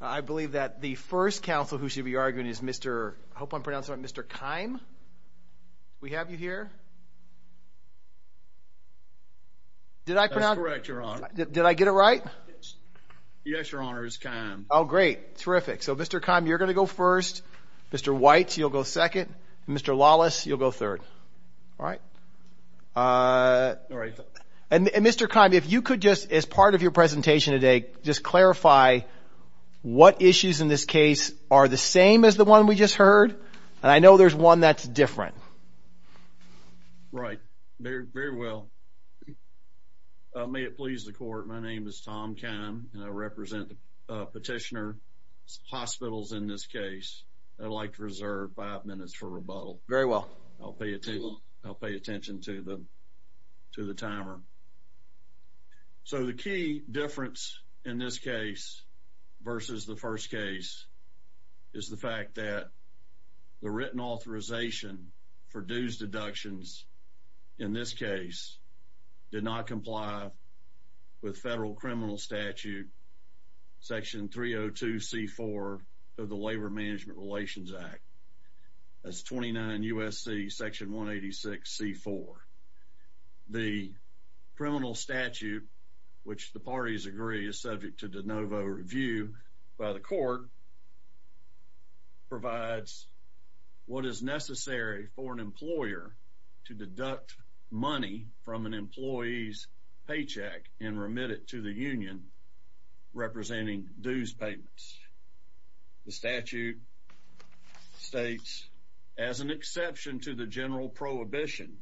I believe that the first counsel who should be arguing is Mr. I hope I'm pronouncing right Mr. Keim. We have you here? Did I pronounce? That's correct your honor. Did I get it right? Yes your honor it's Keim. Oh great. Terrific. So Mr. Keim you're gonna go first. Mr. White you'll go second. Mr. Lawless you'll go third. All right. And Mr. Keim if you could just as part of your presentation today just clarify what issues in this case are the same as the one we just heard and I know there's one that's different. Right. Very well. May it please the court my name is Tom Keim and I represent the petitioner hospitals in this case. I'd like to reserve five minutes for rebuttal. Very well. I'll pay attention to the to the timer. So the key difference in this case versus the first case is the fact that the written authorization for dues deductions in this case did not comply with federal criminal statute section 302 c4 of the Labor Management Relations Act. That's 29 USC section 186 c4. The criminal statute which the parties agree is subject to de novo review by the court provides what is necessary for an employer to deduct money from an employee's paycheck and remit it to the union representing dues payments. The statute states as an exception to the general prohibition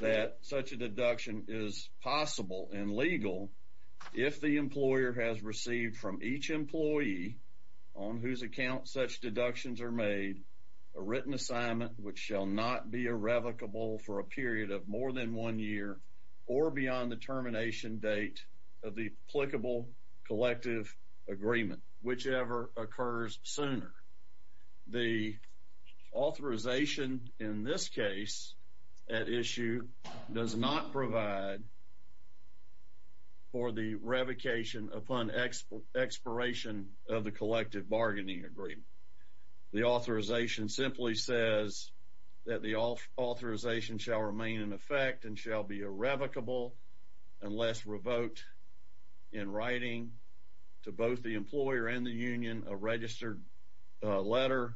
that such a deduction is possible and legal if the employer has received from each employee on whose account such deductions are made a written assignment which shall not be irrevocable for a period of more than one year or beyond the termination date of the applicable collective agreement whichever occurs sooner. The authorization in this case at issue does not provide for the revocation upon expiration of the collective bargaining agreement. The authorization simply says that the authorization shall remain in effect and shall be irrevocable unless revoked in writing to both the employer and the union a registered letter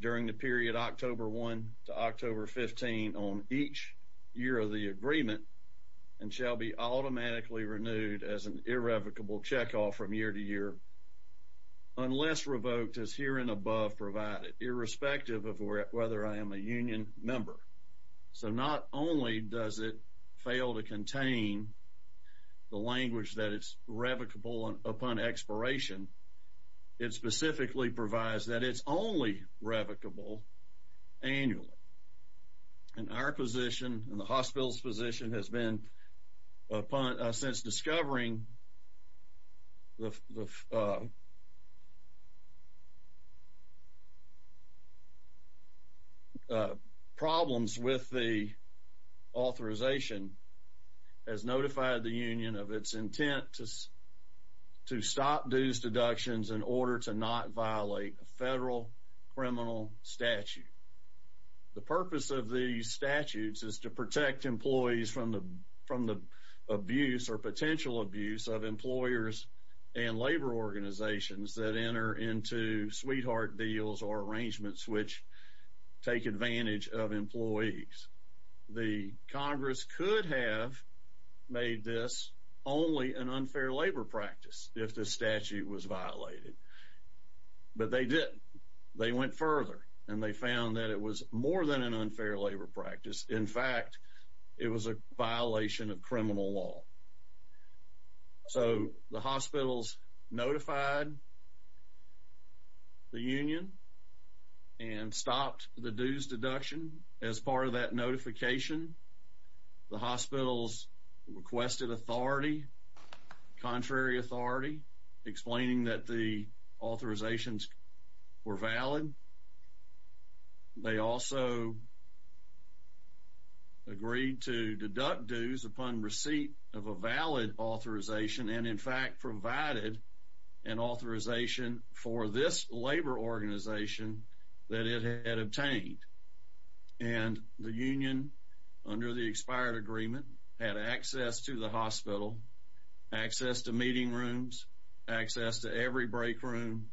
during the period October 1 to October 15 on each year of the agreement and shall be automatically renewed as an irrevocable check off from year to year unless revoked as herein above provided irrespective of whether I am a union member. So not only does it fail to contain the language that it's revocable upon expiration, it specifically provides that it's only revocable annually. And our position and the problems with the authorization has notified the union of its intent to stop dues deductions in order to not violate a federal criminal statute. The purpose of these statutes is to protect employees from the abuse or potential abuse of employers and labor organizations that enter into sweetheart deals or arrangements which take advantage of employees. The Congress could have made this only an unfair labor practice if the statute was violated. But they didn't. They went further and they found that it was more than an unfair labor practice. In fact, it was a violation of criminal law. So the the union and stopped the dues deduction. As part of that notification, the hospitals requested authority, contrary authority, explaining that the authorizations were valid. They also agreed to deduct dues upon receipt of a valid authorization and, in fact, provided an authorization for this labor organization that it had obtained. And the union, under the expired agreement, had access to the hospital, access to meeting rooms, access to every break room,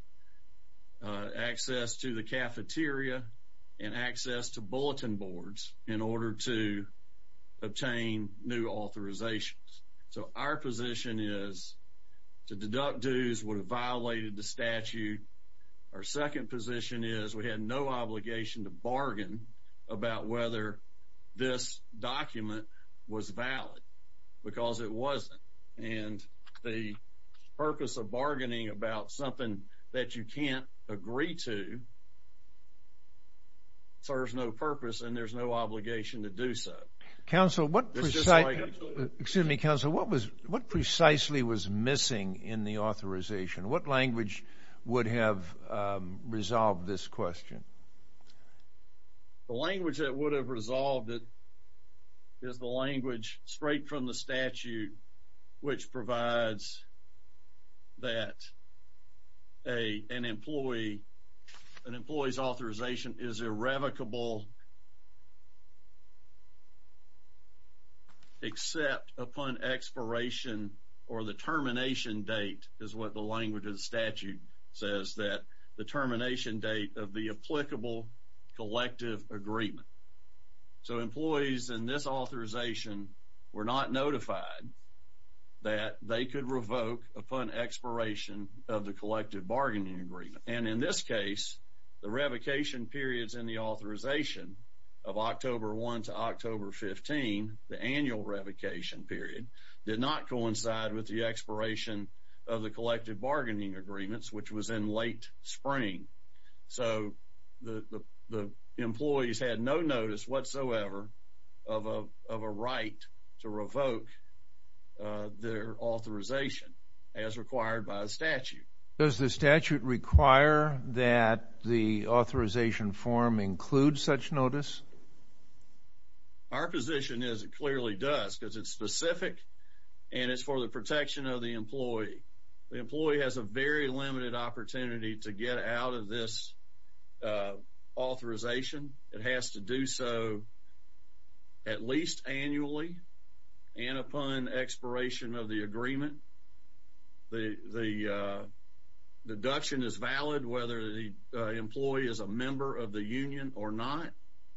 access to the cafeteria and access to bulletin boards in order to obtain new authorizations. So our position is to deduct dues would have violated the statute. Our second position is we had no obligation to bargain about whether this document was valid because it wasn't. And the purpose of bargaining about something that you can't agree to so there's no purpose and there's no obligation to do so. Council, what precisely, excuse me, Council, what was what precisely was missing in the authorization? What language would have resolved this question? The language that would have resolved it is the language straight from the statute, which provides that an employee, an employee's authorization is irrevocable except upon expiration or the termination date is what the language of the statute says that the termination date of the applicable collective agreement. So employees in this authorization were not notified that they could revoke upon expiration of the collective bargaining agreement. And in this case, the revocation periods in the authorization of October 1 to October 15, the annual revocation period, did not coincide with the expiration of the collective bargaining agreements, which was in late spring. So the employees had no notice whatsoever of a right to revoke their authorization as required by the statute. Does the statute require that the authorization form includes such notice? Our position is it clearly does because it's specific and it's for the protection of the employee. The employee has a very limited opportunity to get out of this authorization. It has to do so at least annually and upon expiration of the agreement. The deduction is valid whether the employee is a member of the union or not.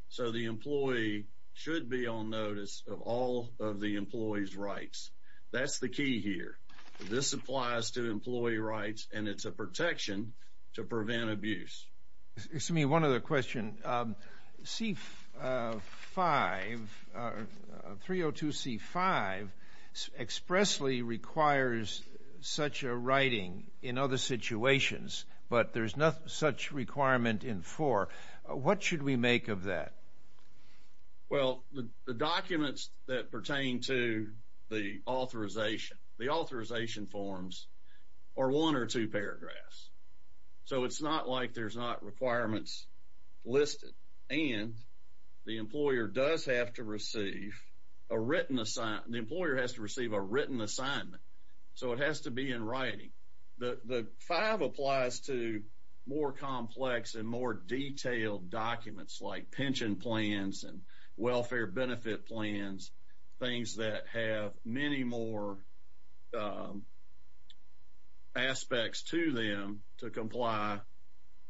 So the employee should be on notice of all of the employee's rights. That's the key here. This applies to employee rights, and it's a protection to prevent abuse. Excuse me, one other question. C5, 302C5, expressly requires such a writing in other situations, but there's no such requirement in 4. What should we make of that? Well, the documents that pertain to the authorization, the authorization forms are one or two paragraphs. So it's not like there's not requirements listed, and the employer does have to receive a written assignment. The employer has to receive a written assignment, so it has to be in writing. The 5 applies to more protection plans and welfare benefit plans, things that have many more aspects to them to comply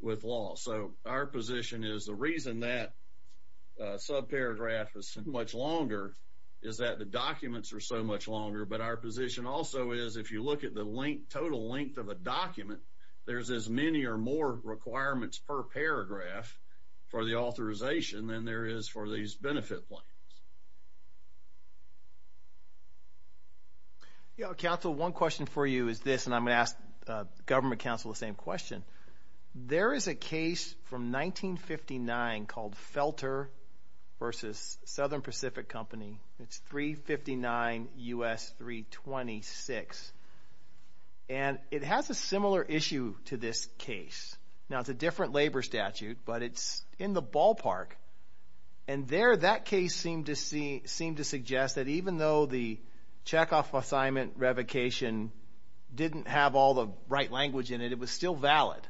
with law. So our position is the reason that subparagraph is so much longer is that the documents are so much longer, but our position also is if you look at the total length of a document, there's as many or more requirements per paragraph for the authorization than there is for these benefit plans. Yeah, counsel, one question for you is this, and I'm going to ask government counsel the same question. There is a case from 1959 called Felter v. Southern Now, it's a different labor statute, but it's in the ballpark, and there that case seemed to suggest that even though the checkoff assignment revocation didn't have all the right language in it, it was still valid.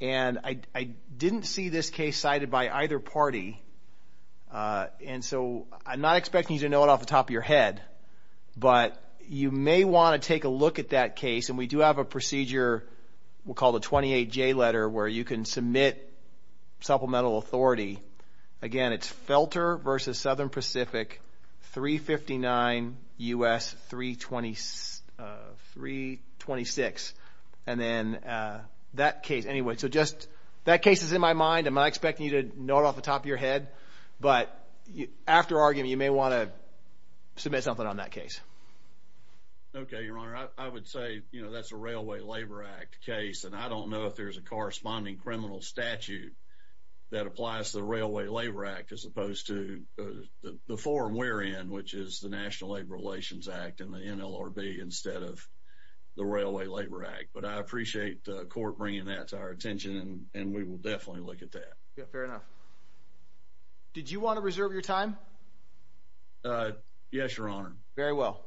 And I didn't see this case cited by either party, and so I'm not expecting you to know it off the top of your head, but you may want to take a look at that case, and we do have a 28J letter where you can submit supplemental authority. Again, it's Felter v. Southern Pacific, 359 U.S. 326, and then that case. Anyway, so just that case is in my mind. I'm not expecting you to know it off the top of your head, but after arguing, you may want to submit something on that case. Okay, Your Honor, I would say that's a Railway Labor Act case, and I don't know if there's a corresponding criminal statute that applies to the Railway Labor Act as opposed to the forum we're in, which is the National Labor Relations Act and the NLRB instead of the Railway Labor Act. But I appreciate the court bringing that to our attention, and we will definitely look at that. Yeah, fair enough. Did you want to reserve your time? Uh, yes, Your Honor. Very well.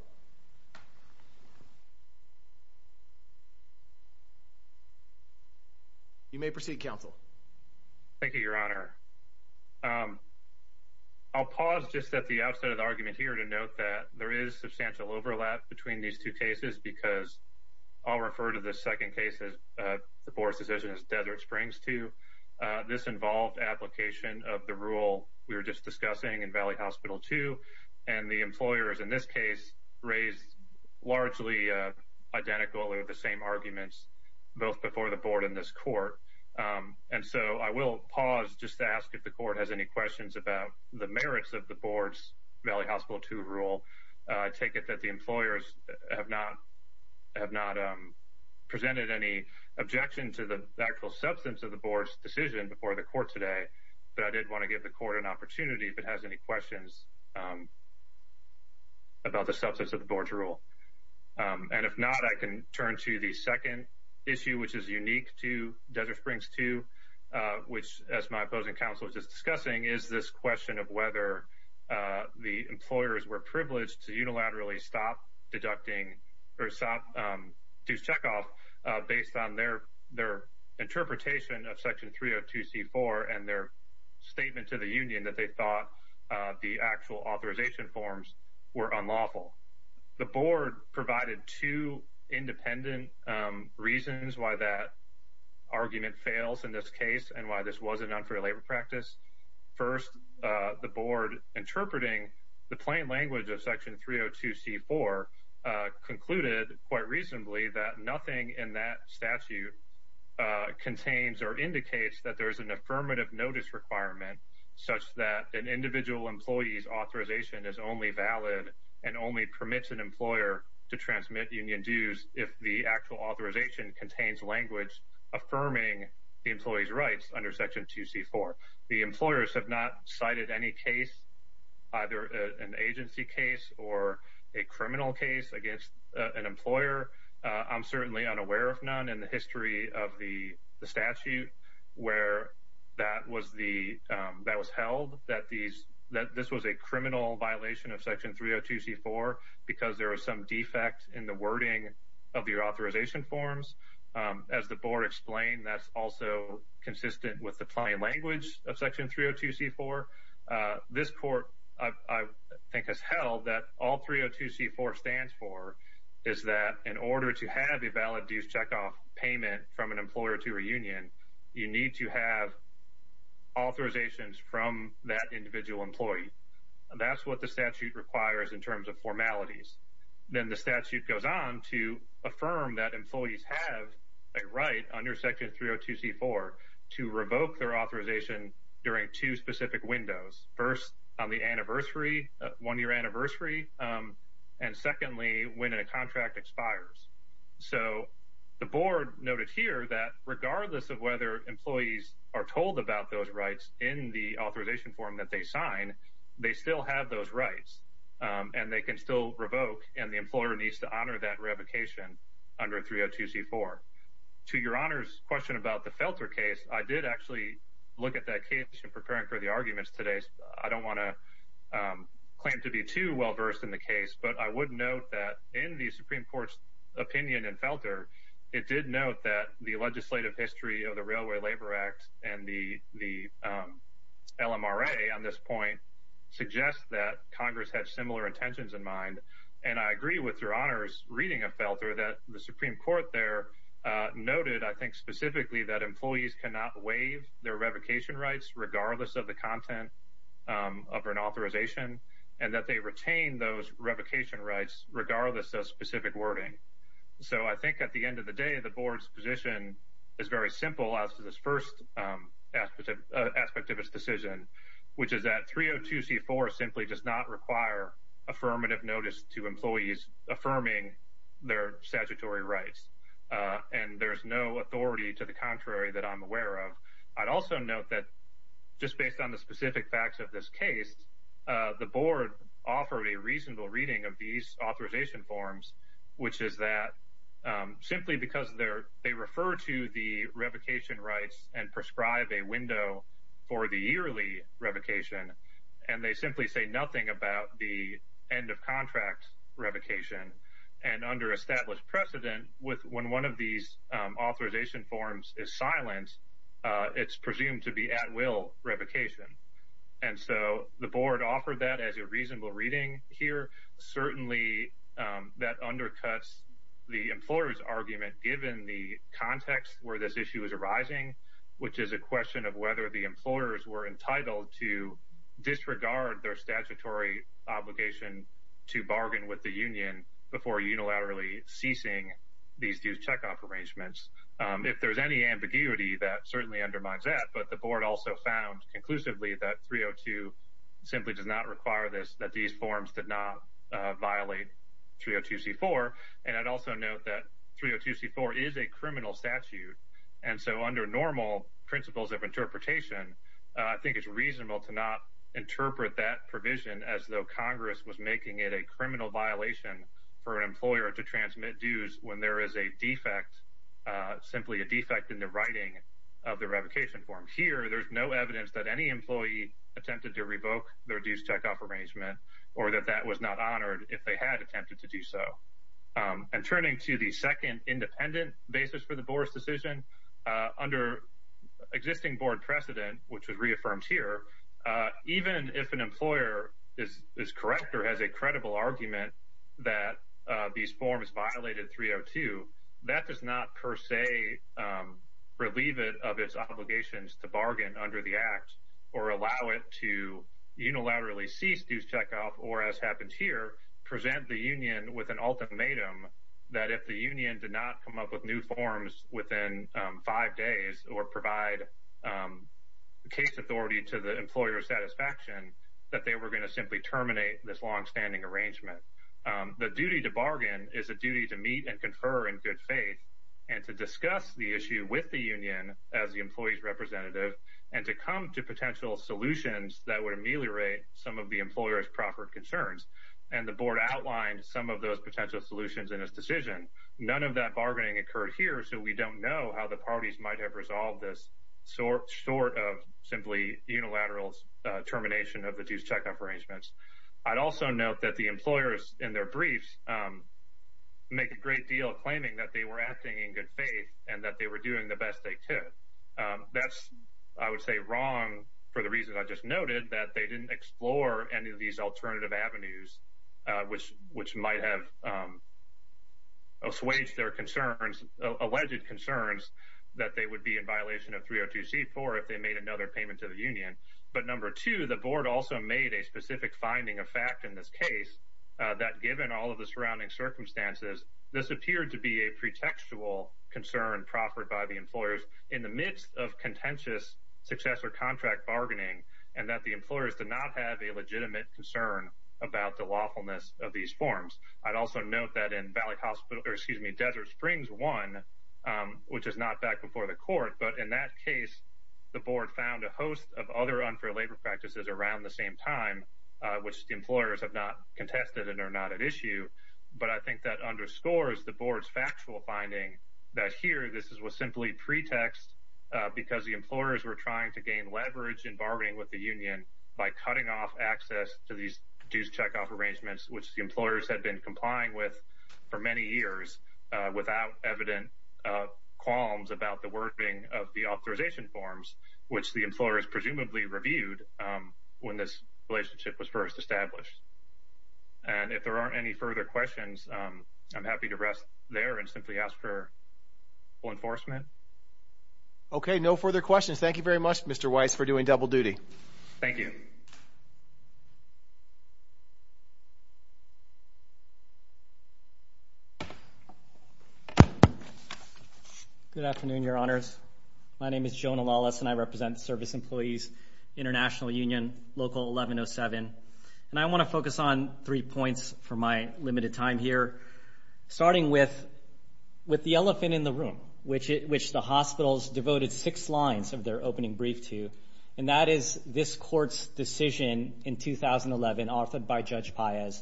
You may proceed, Counsel. Thank you, Your Honor. I'll pause just at the outset of the argument here to note that there is substantial overlap between these two cases because I'll refer to the second cases. The board's decision is Desert Springs to this involved application of the rule we were just discussing in Valley Hospital, too, and the employers in this case raised largely identical or the same arguments both before the board in this court. And so I will pause just to ask if the court has any questions about the merits of the board's Valley Hospital to rule. I take it that the employers have not have not presented any objection to the actual substance of the board's decision before the court today. But I did want to give the court an opportunity if it has any questions, um, about the substance of the board's rule. Um, and if not, I can turn to the second issue, which is unique to Desert Springs to which, as my opposing counsel was just discussing, is this question of whether the employers were privileged to unilaterally stop deducting herself to check off based on their their interpretation of Section 302 C four and their statement to the union that they thought the actual authorization forms were unlawful. The reasons why that argument fails in this case and why this was an unfair labor practice. First, the board interpreting the plain language of Section 302 C four concluded quite reasonably that nothing in that statute contains or indicates that there is an affirmative notice requirement such that an individual employee's authorization is only valid and only permits an employer to transmit union dues. If the actual authorization contains language affirming the employee's rights under Section two C four, the employers have not cited any case, either an agency case or a criminal case against an employer. I'm certainly unaware of none in the history of the statute where that was the that was held that these that this was a criminal violation of defect in the wording of your authorization forms. As the board explained, that's also consistent with the plain language of Section 302 C four. This court, I think, has held that all 302 C four stands for is that in order to have a valid dues check off payment from an employer to reunion, you need to have authorizations from that individual employee. That's what the then the statute goes on to affirm that employees have a right under Section 302 C four to revoke their authorization during two specific windows first on the anniversary one year anniversary. Um, and secondly, when a contract expires. So the board noted here that regardless of whether employees are told about those rights in the authorization form that they sign, they still have those rights. Um, and they can still revoke, and the employer needs to honor that revocation under 302 C four to your honors question about the filter case. I did actually look at that case in preparing for the arguments today. I don't wanna, um, claim to be too well versed in the case, but I would note that in the Supreme Court's opinion and filter, it did note that the legislative history of the Railway Labor Act and the L. M. R. A. On this point suggests that Congress had similar intentions in mind, and I agree with your honors reading a filter that the Supreme Court there noted, I think, specifically that employees cannot waive their revocation rights regardless of the content of an authorization and that they retain those revocation rights regardless of specific wording. So I think at the end of the day, the board's position is very simple as to this first aspect of aspect of its decision, which is that 302 C four simply does not require affirmative notice to employees affirming their statutory rights on. There's no authority to the contrary that I'm aware of. I'd also note that just based on the specific facts of this case, the board offered a reasonable reading of these authorization forms, which is that simply because they're they refer to the revocation rights and prescribe a window for the yearly revocation, and they simply say nothing about the end of contract revocation and under established precedent with when one of these authorization forms is silent, it's presumed to be at will revocation. And so the board offered that as a reasonable reading here. Certainly, that undercuts the employer's argument. Given the context where this issue is arising, which is a question of whether the employers were entitled to disregard their statutory obligation to bargain with the union before unilaterally ceasing these dues check off arrangements. If there's any ambiguity, that certainly undermines that. But the board also found conclusively that 302 simply does not require this, that these forms did not violate 302 C four. And I'd also note that 302 C four is a criminal statute. And so under normal principles of interpretation, I think it's reasonable to not interpret that provision as though Congress was making it a criminal violation for an employer to transmit dues when there is a defect, simply a defect in the writing of the revocation form. Here, there's no evidence that any employee attempted to revoke their dues check off arrangement or that that was not honored if they had attempted to do so. And turning to the second independent basis for the board's decision under existing board precedent, which was reaffirmed here, even if an employer is correct or has a credible argument that these forms violated 302, that does not per se, relieve it of its obligations to bargain under the act or allow it to unilaterally cease dues check off or as the union with an ultimatum that if the union did not come up with new forms within five days or provide, um, case authority to the employer satisfaction that they were going to simply terminate this long standing arrangement. The duty to bargain is a duty to meet and confer in good faith and to discuss the issue with the union as the employees representative and to come to potential solutions that would ameliorate some of the employers proper concerns. And the board outlined some of those potential solutions in his decision. None of that bargaining occurred here, so we don't know how the parties might have resolved this sort short of simply unilaterals termination of the dues check off arrangements. I'd also note that the employers in their briefs, um, make a great deal of claiming that they were acting in good faith and that they were doing the best they could. That's, I would say, wrong for the reasons I just which which might have, um, assuage their concerns, alleged concerns that they would be in violation of 302 C four if they made another payment to the union. But number two, the board also made a specific finding of fact in this case that given all of the surrounding circumstances, this appeared to be a pretextual concern proffered by the employers in the midst of contentious successor contract bargaining and that the employers did not have a legitimate concern about the awfulness of these forms. I'd also note that in Valley Hospital, excuse me, Desert Springs one, which is not back before the court. But in that case, the board found a host of other unfair labor practices around the same time, which the employers have not contested and are not at issue. But I think that underscores the board's factual finding that here this is was simply pretext because the employers were trying to gain leverage in bargaining with the the employers had been complying with for many years without evident qualms about the wording of the authorization forms, which the employers presumably reviewed when this relationship was first established. And if there aren't any further questions, I'm happy to rest there and simply ask for enforcement. Okay, no further questions. Thank you very much, Mr Weiss for doing double duty. Thank you. Good afternoon, Your Honors. My name is Jonah Lawless, and I represent service employees, International Union, Local 1107. And I want to focus on three points for my limited time here, starting with with the elephant in the room, which which the hospitals devoted six lines of their opening brief to. And that is this court's decision in 2011, authored by Judge Paez,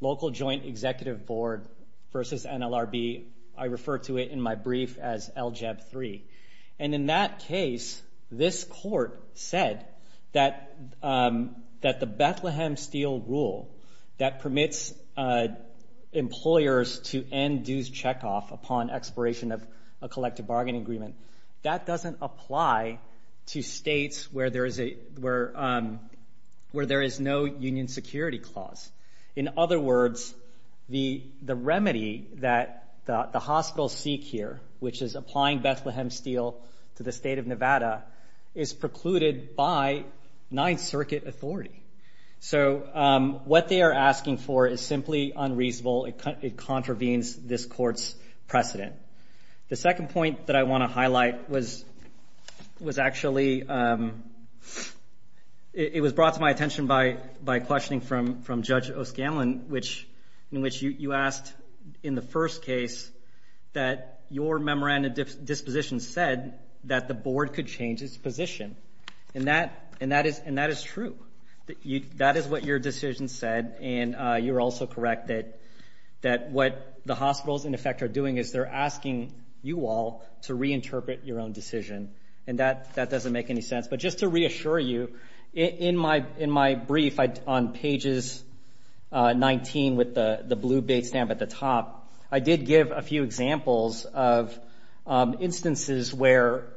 Local Joint Executive Board versus NLRB. I refer to it in my brief as LJEB 3. And in that case, this court said that that the Bethlehem Steel rule that permits employers to end dues checkoff upon expiration of a collective bargaining agreement, that doesn't apply to states where there is a where where there is no union security clause. In other words, the the remedy that the hospital seek here, which is applying Bethlehem Steel to the state of Nevada, is precluded by Ninth Circuit authority. So what they're asking for is simply unreasonable. It contravenes this court's precedent. The second point that I want to highlight was was actually it was brought to my attention by by questioning from from Judge O'Scanlan, which in which you asked in the first case that your memorandum of disposition said that the board could change its position. And that and that is and that is true. That is what your decision said. And you're also correct that that what the hospitals in effect are doing is they're asking you all to reinterpret your own decision. And that that doesn't make any sense. But just to reassure you, in my in my brief on pages 19 with the the blue bait stamp at the top, I did give a few examples of instances where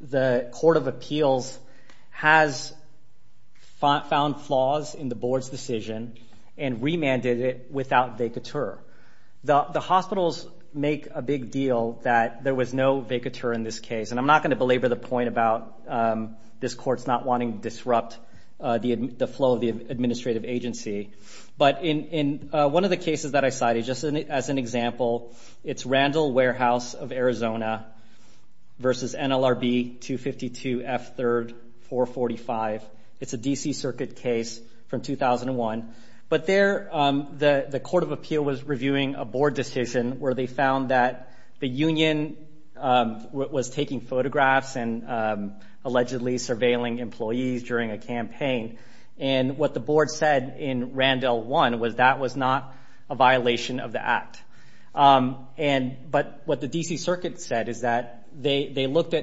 the Court of Appeals has found flaws in the board's decision and remanded it without vacatur. The hospitals make a big deal that there was no vacatur in this case. And I'm not going to belabor the point about this court's not wanting to disrupt the flow of the administrative agency. But in one of the cases that I cited, just as an example, it's Randall Warehouse of NLRB 252 F 3rd 445. It's a D. C. Circuit case from 2001. But there the Court of Appeal was reviewing a board decision where they found that the union was taking photographs and allegedly surveilling employees during a campaign. And what the board said in Randall one was that was not a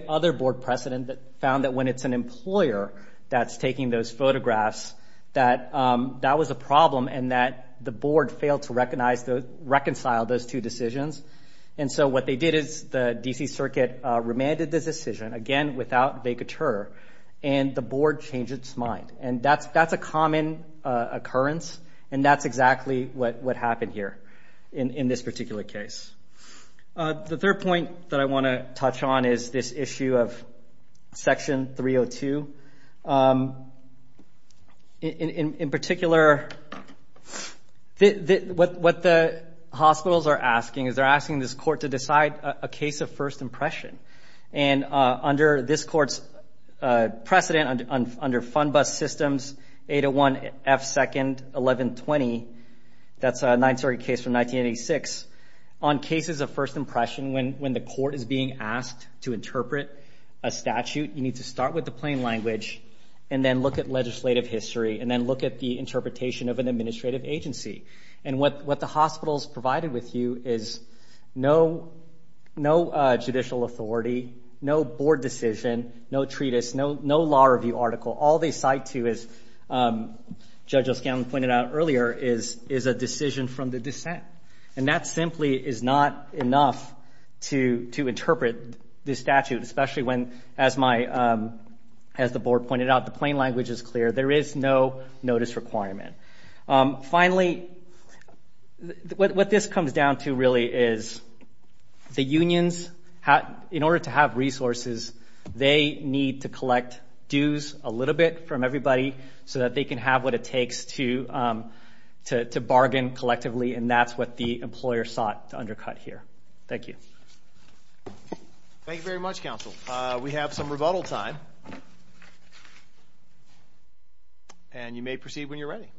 other board precedent that found that when it's an employer that's taking those photographs that that was a problem and that the board failed to recognize the reconcile those two decisions. And so what they did is the D. C. Circuit remanded this decision again without vacatur and the board changed its mind. And that's that's a common occurrence. And that's exactly what what happened here in this particular case. The third point that I want to you of Section 302. Um, in particular, what the hospitals are asking is they're asking this court to decide a case of first impression and under this court's precedent under fund bus systems 801 F 2nd 11 20. That's a nine story case from 1986 on cases of first impression when when the court is being asked to interpret a statute, you need to start with the plain language and then look at legislative history and then look at the interpretation of an administrative agency. And what what the hospitals provided with you is no, no judicial authority, no board decision, no treatise, no, no law review article. All they cite to is, um, Judge O'Scallion pointed out earlier is is a this statute, especially when, as my, um, as the board pointed out, the plain language is clear. There is no notice requirement. Um, finally, what this comes down to really is the unions in order to have resources, they need to collect dues a little bit from everybody so that they can have what it takes to, um, to bargain collectively. And that's what the employer sought to undercut here. Thank you. Thank you very much. Council. We have some rebuttal time and you may proceed when you're ready.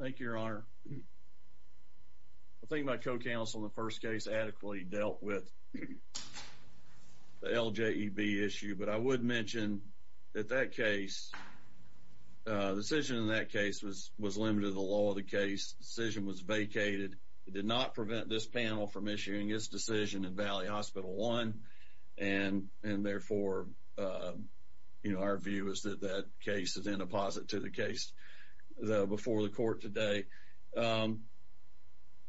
Thank you, Your Honor. I think my co council in the first case adequately dealt with the L. J. E. B. Issue. But I would mention that that case decision in that case was was limited. The law of the case decision was vacated. It did not prevent this panel from issuing his decision in Valley Hospital one. And and therefore, uh, you know, our view is that that case is in deposit to the case before the court today. Um,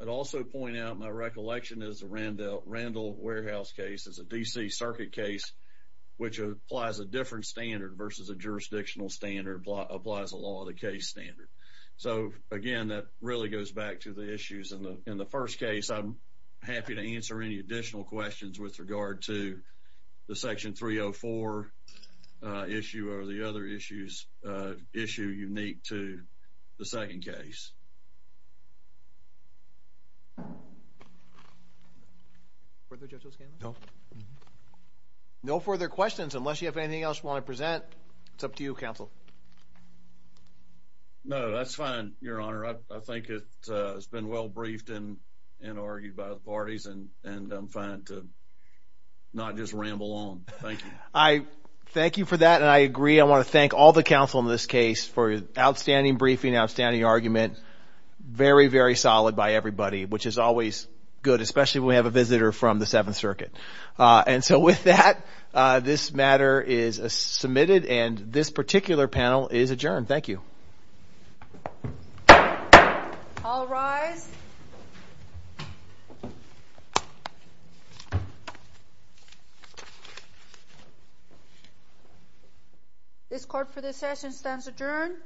I'd also point out my recollection is Randall Randall Warehouse case is a D. C. Circuit case, which applies a different standard versus a jurisdictional standard applies a lot of the case standard. So again, that really goes back to the issues in the in the first case. I'm happy to answer any additional questions with regard to the section 304 issue or the other issues issue unique to the second case. Further judges? No. No further questions unless you have anything else want to present. It's up to you, Council. No, that's fine, Your Honor. I think it has been well briefed in and argued by the parties and and I'm fine, too. Not just ramble on. Thank you. I thank you for that. And I agree. I want to thank all the council in this case for outstanding briefing. Outstanding argument. Very, very solid by everybody, which is always good, especially when we have a visitor from the Seventh Circuit on DSO. With that, this matter is submitted and this particular panel is adjourned. Thank you. All rise. This court for this session stands adjourned.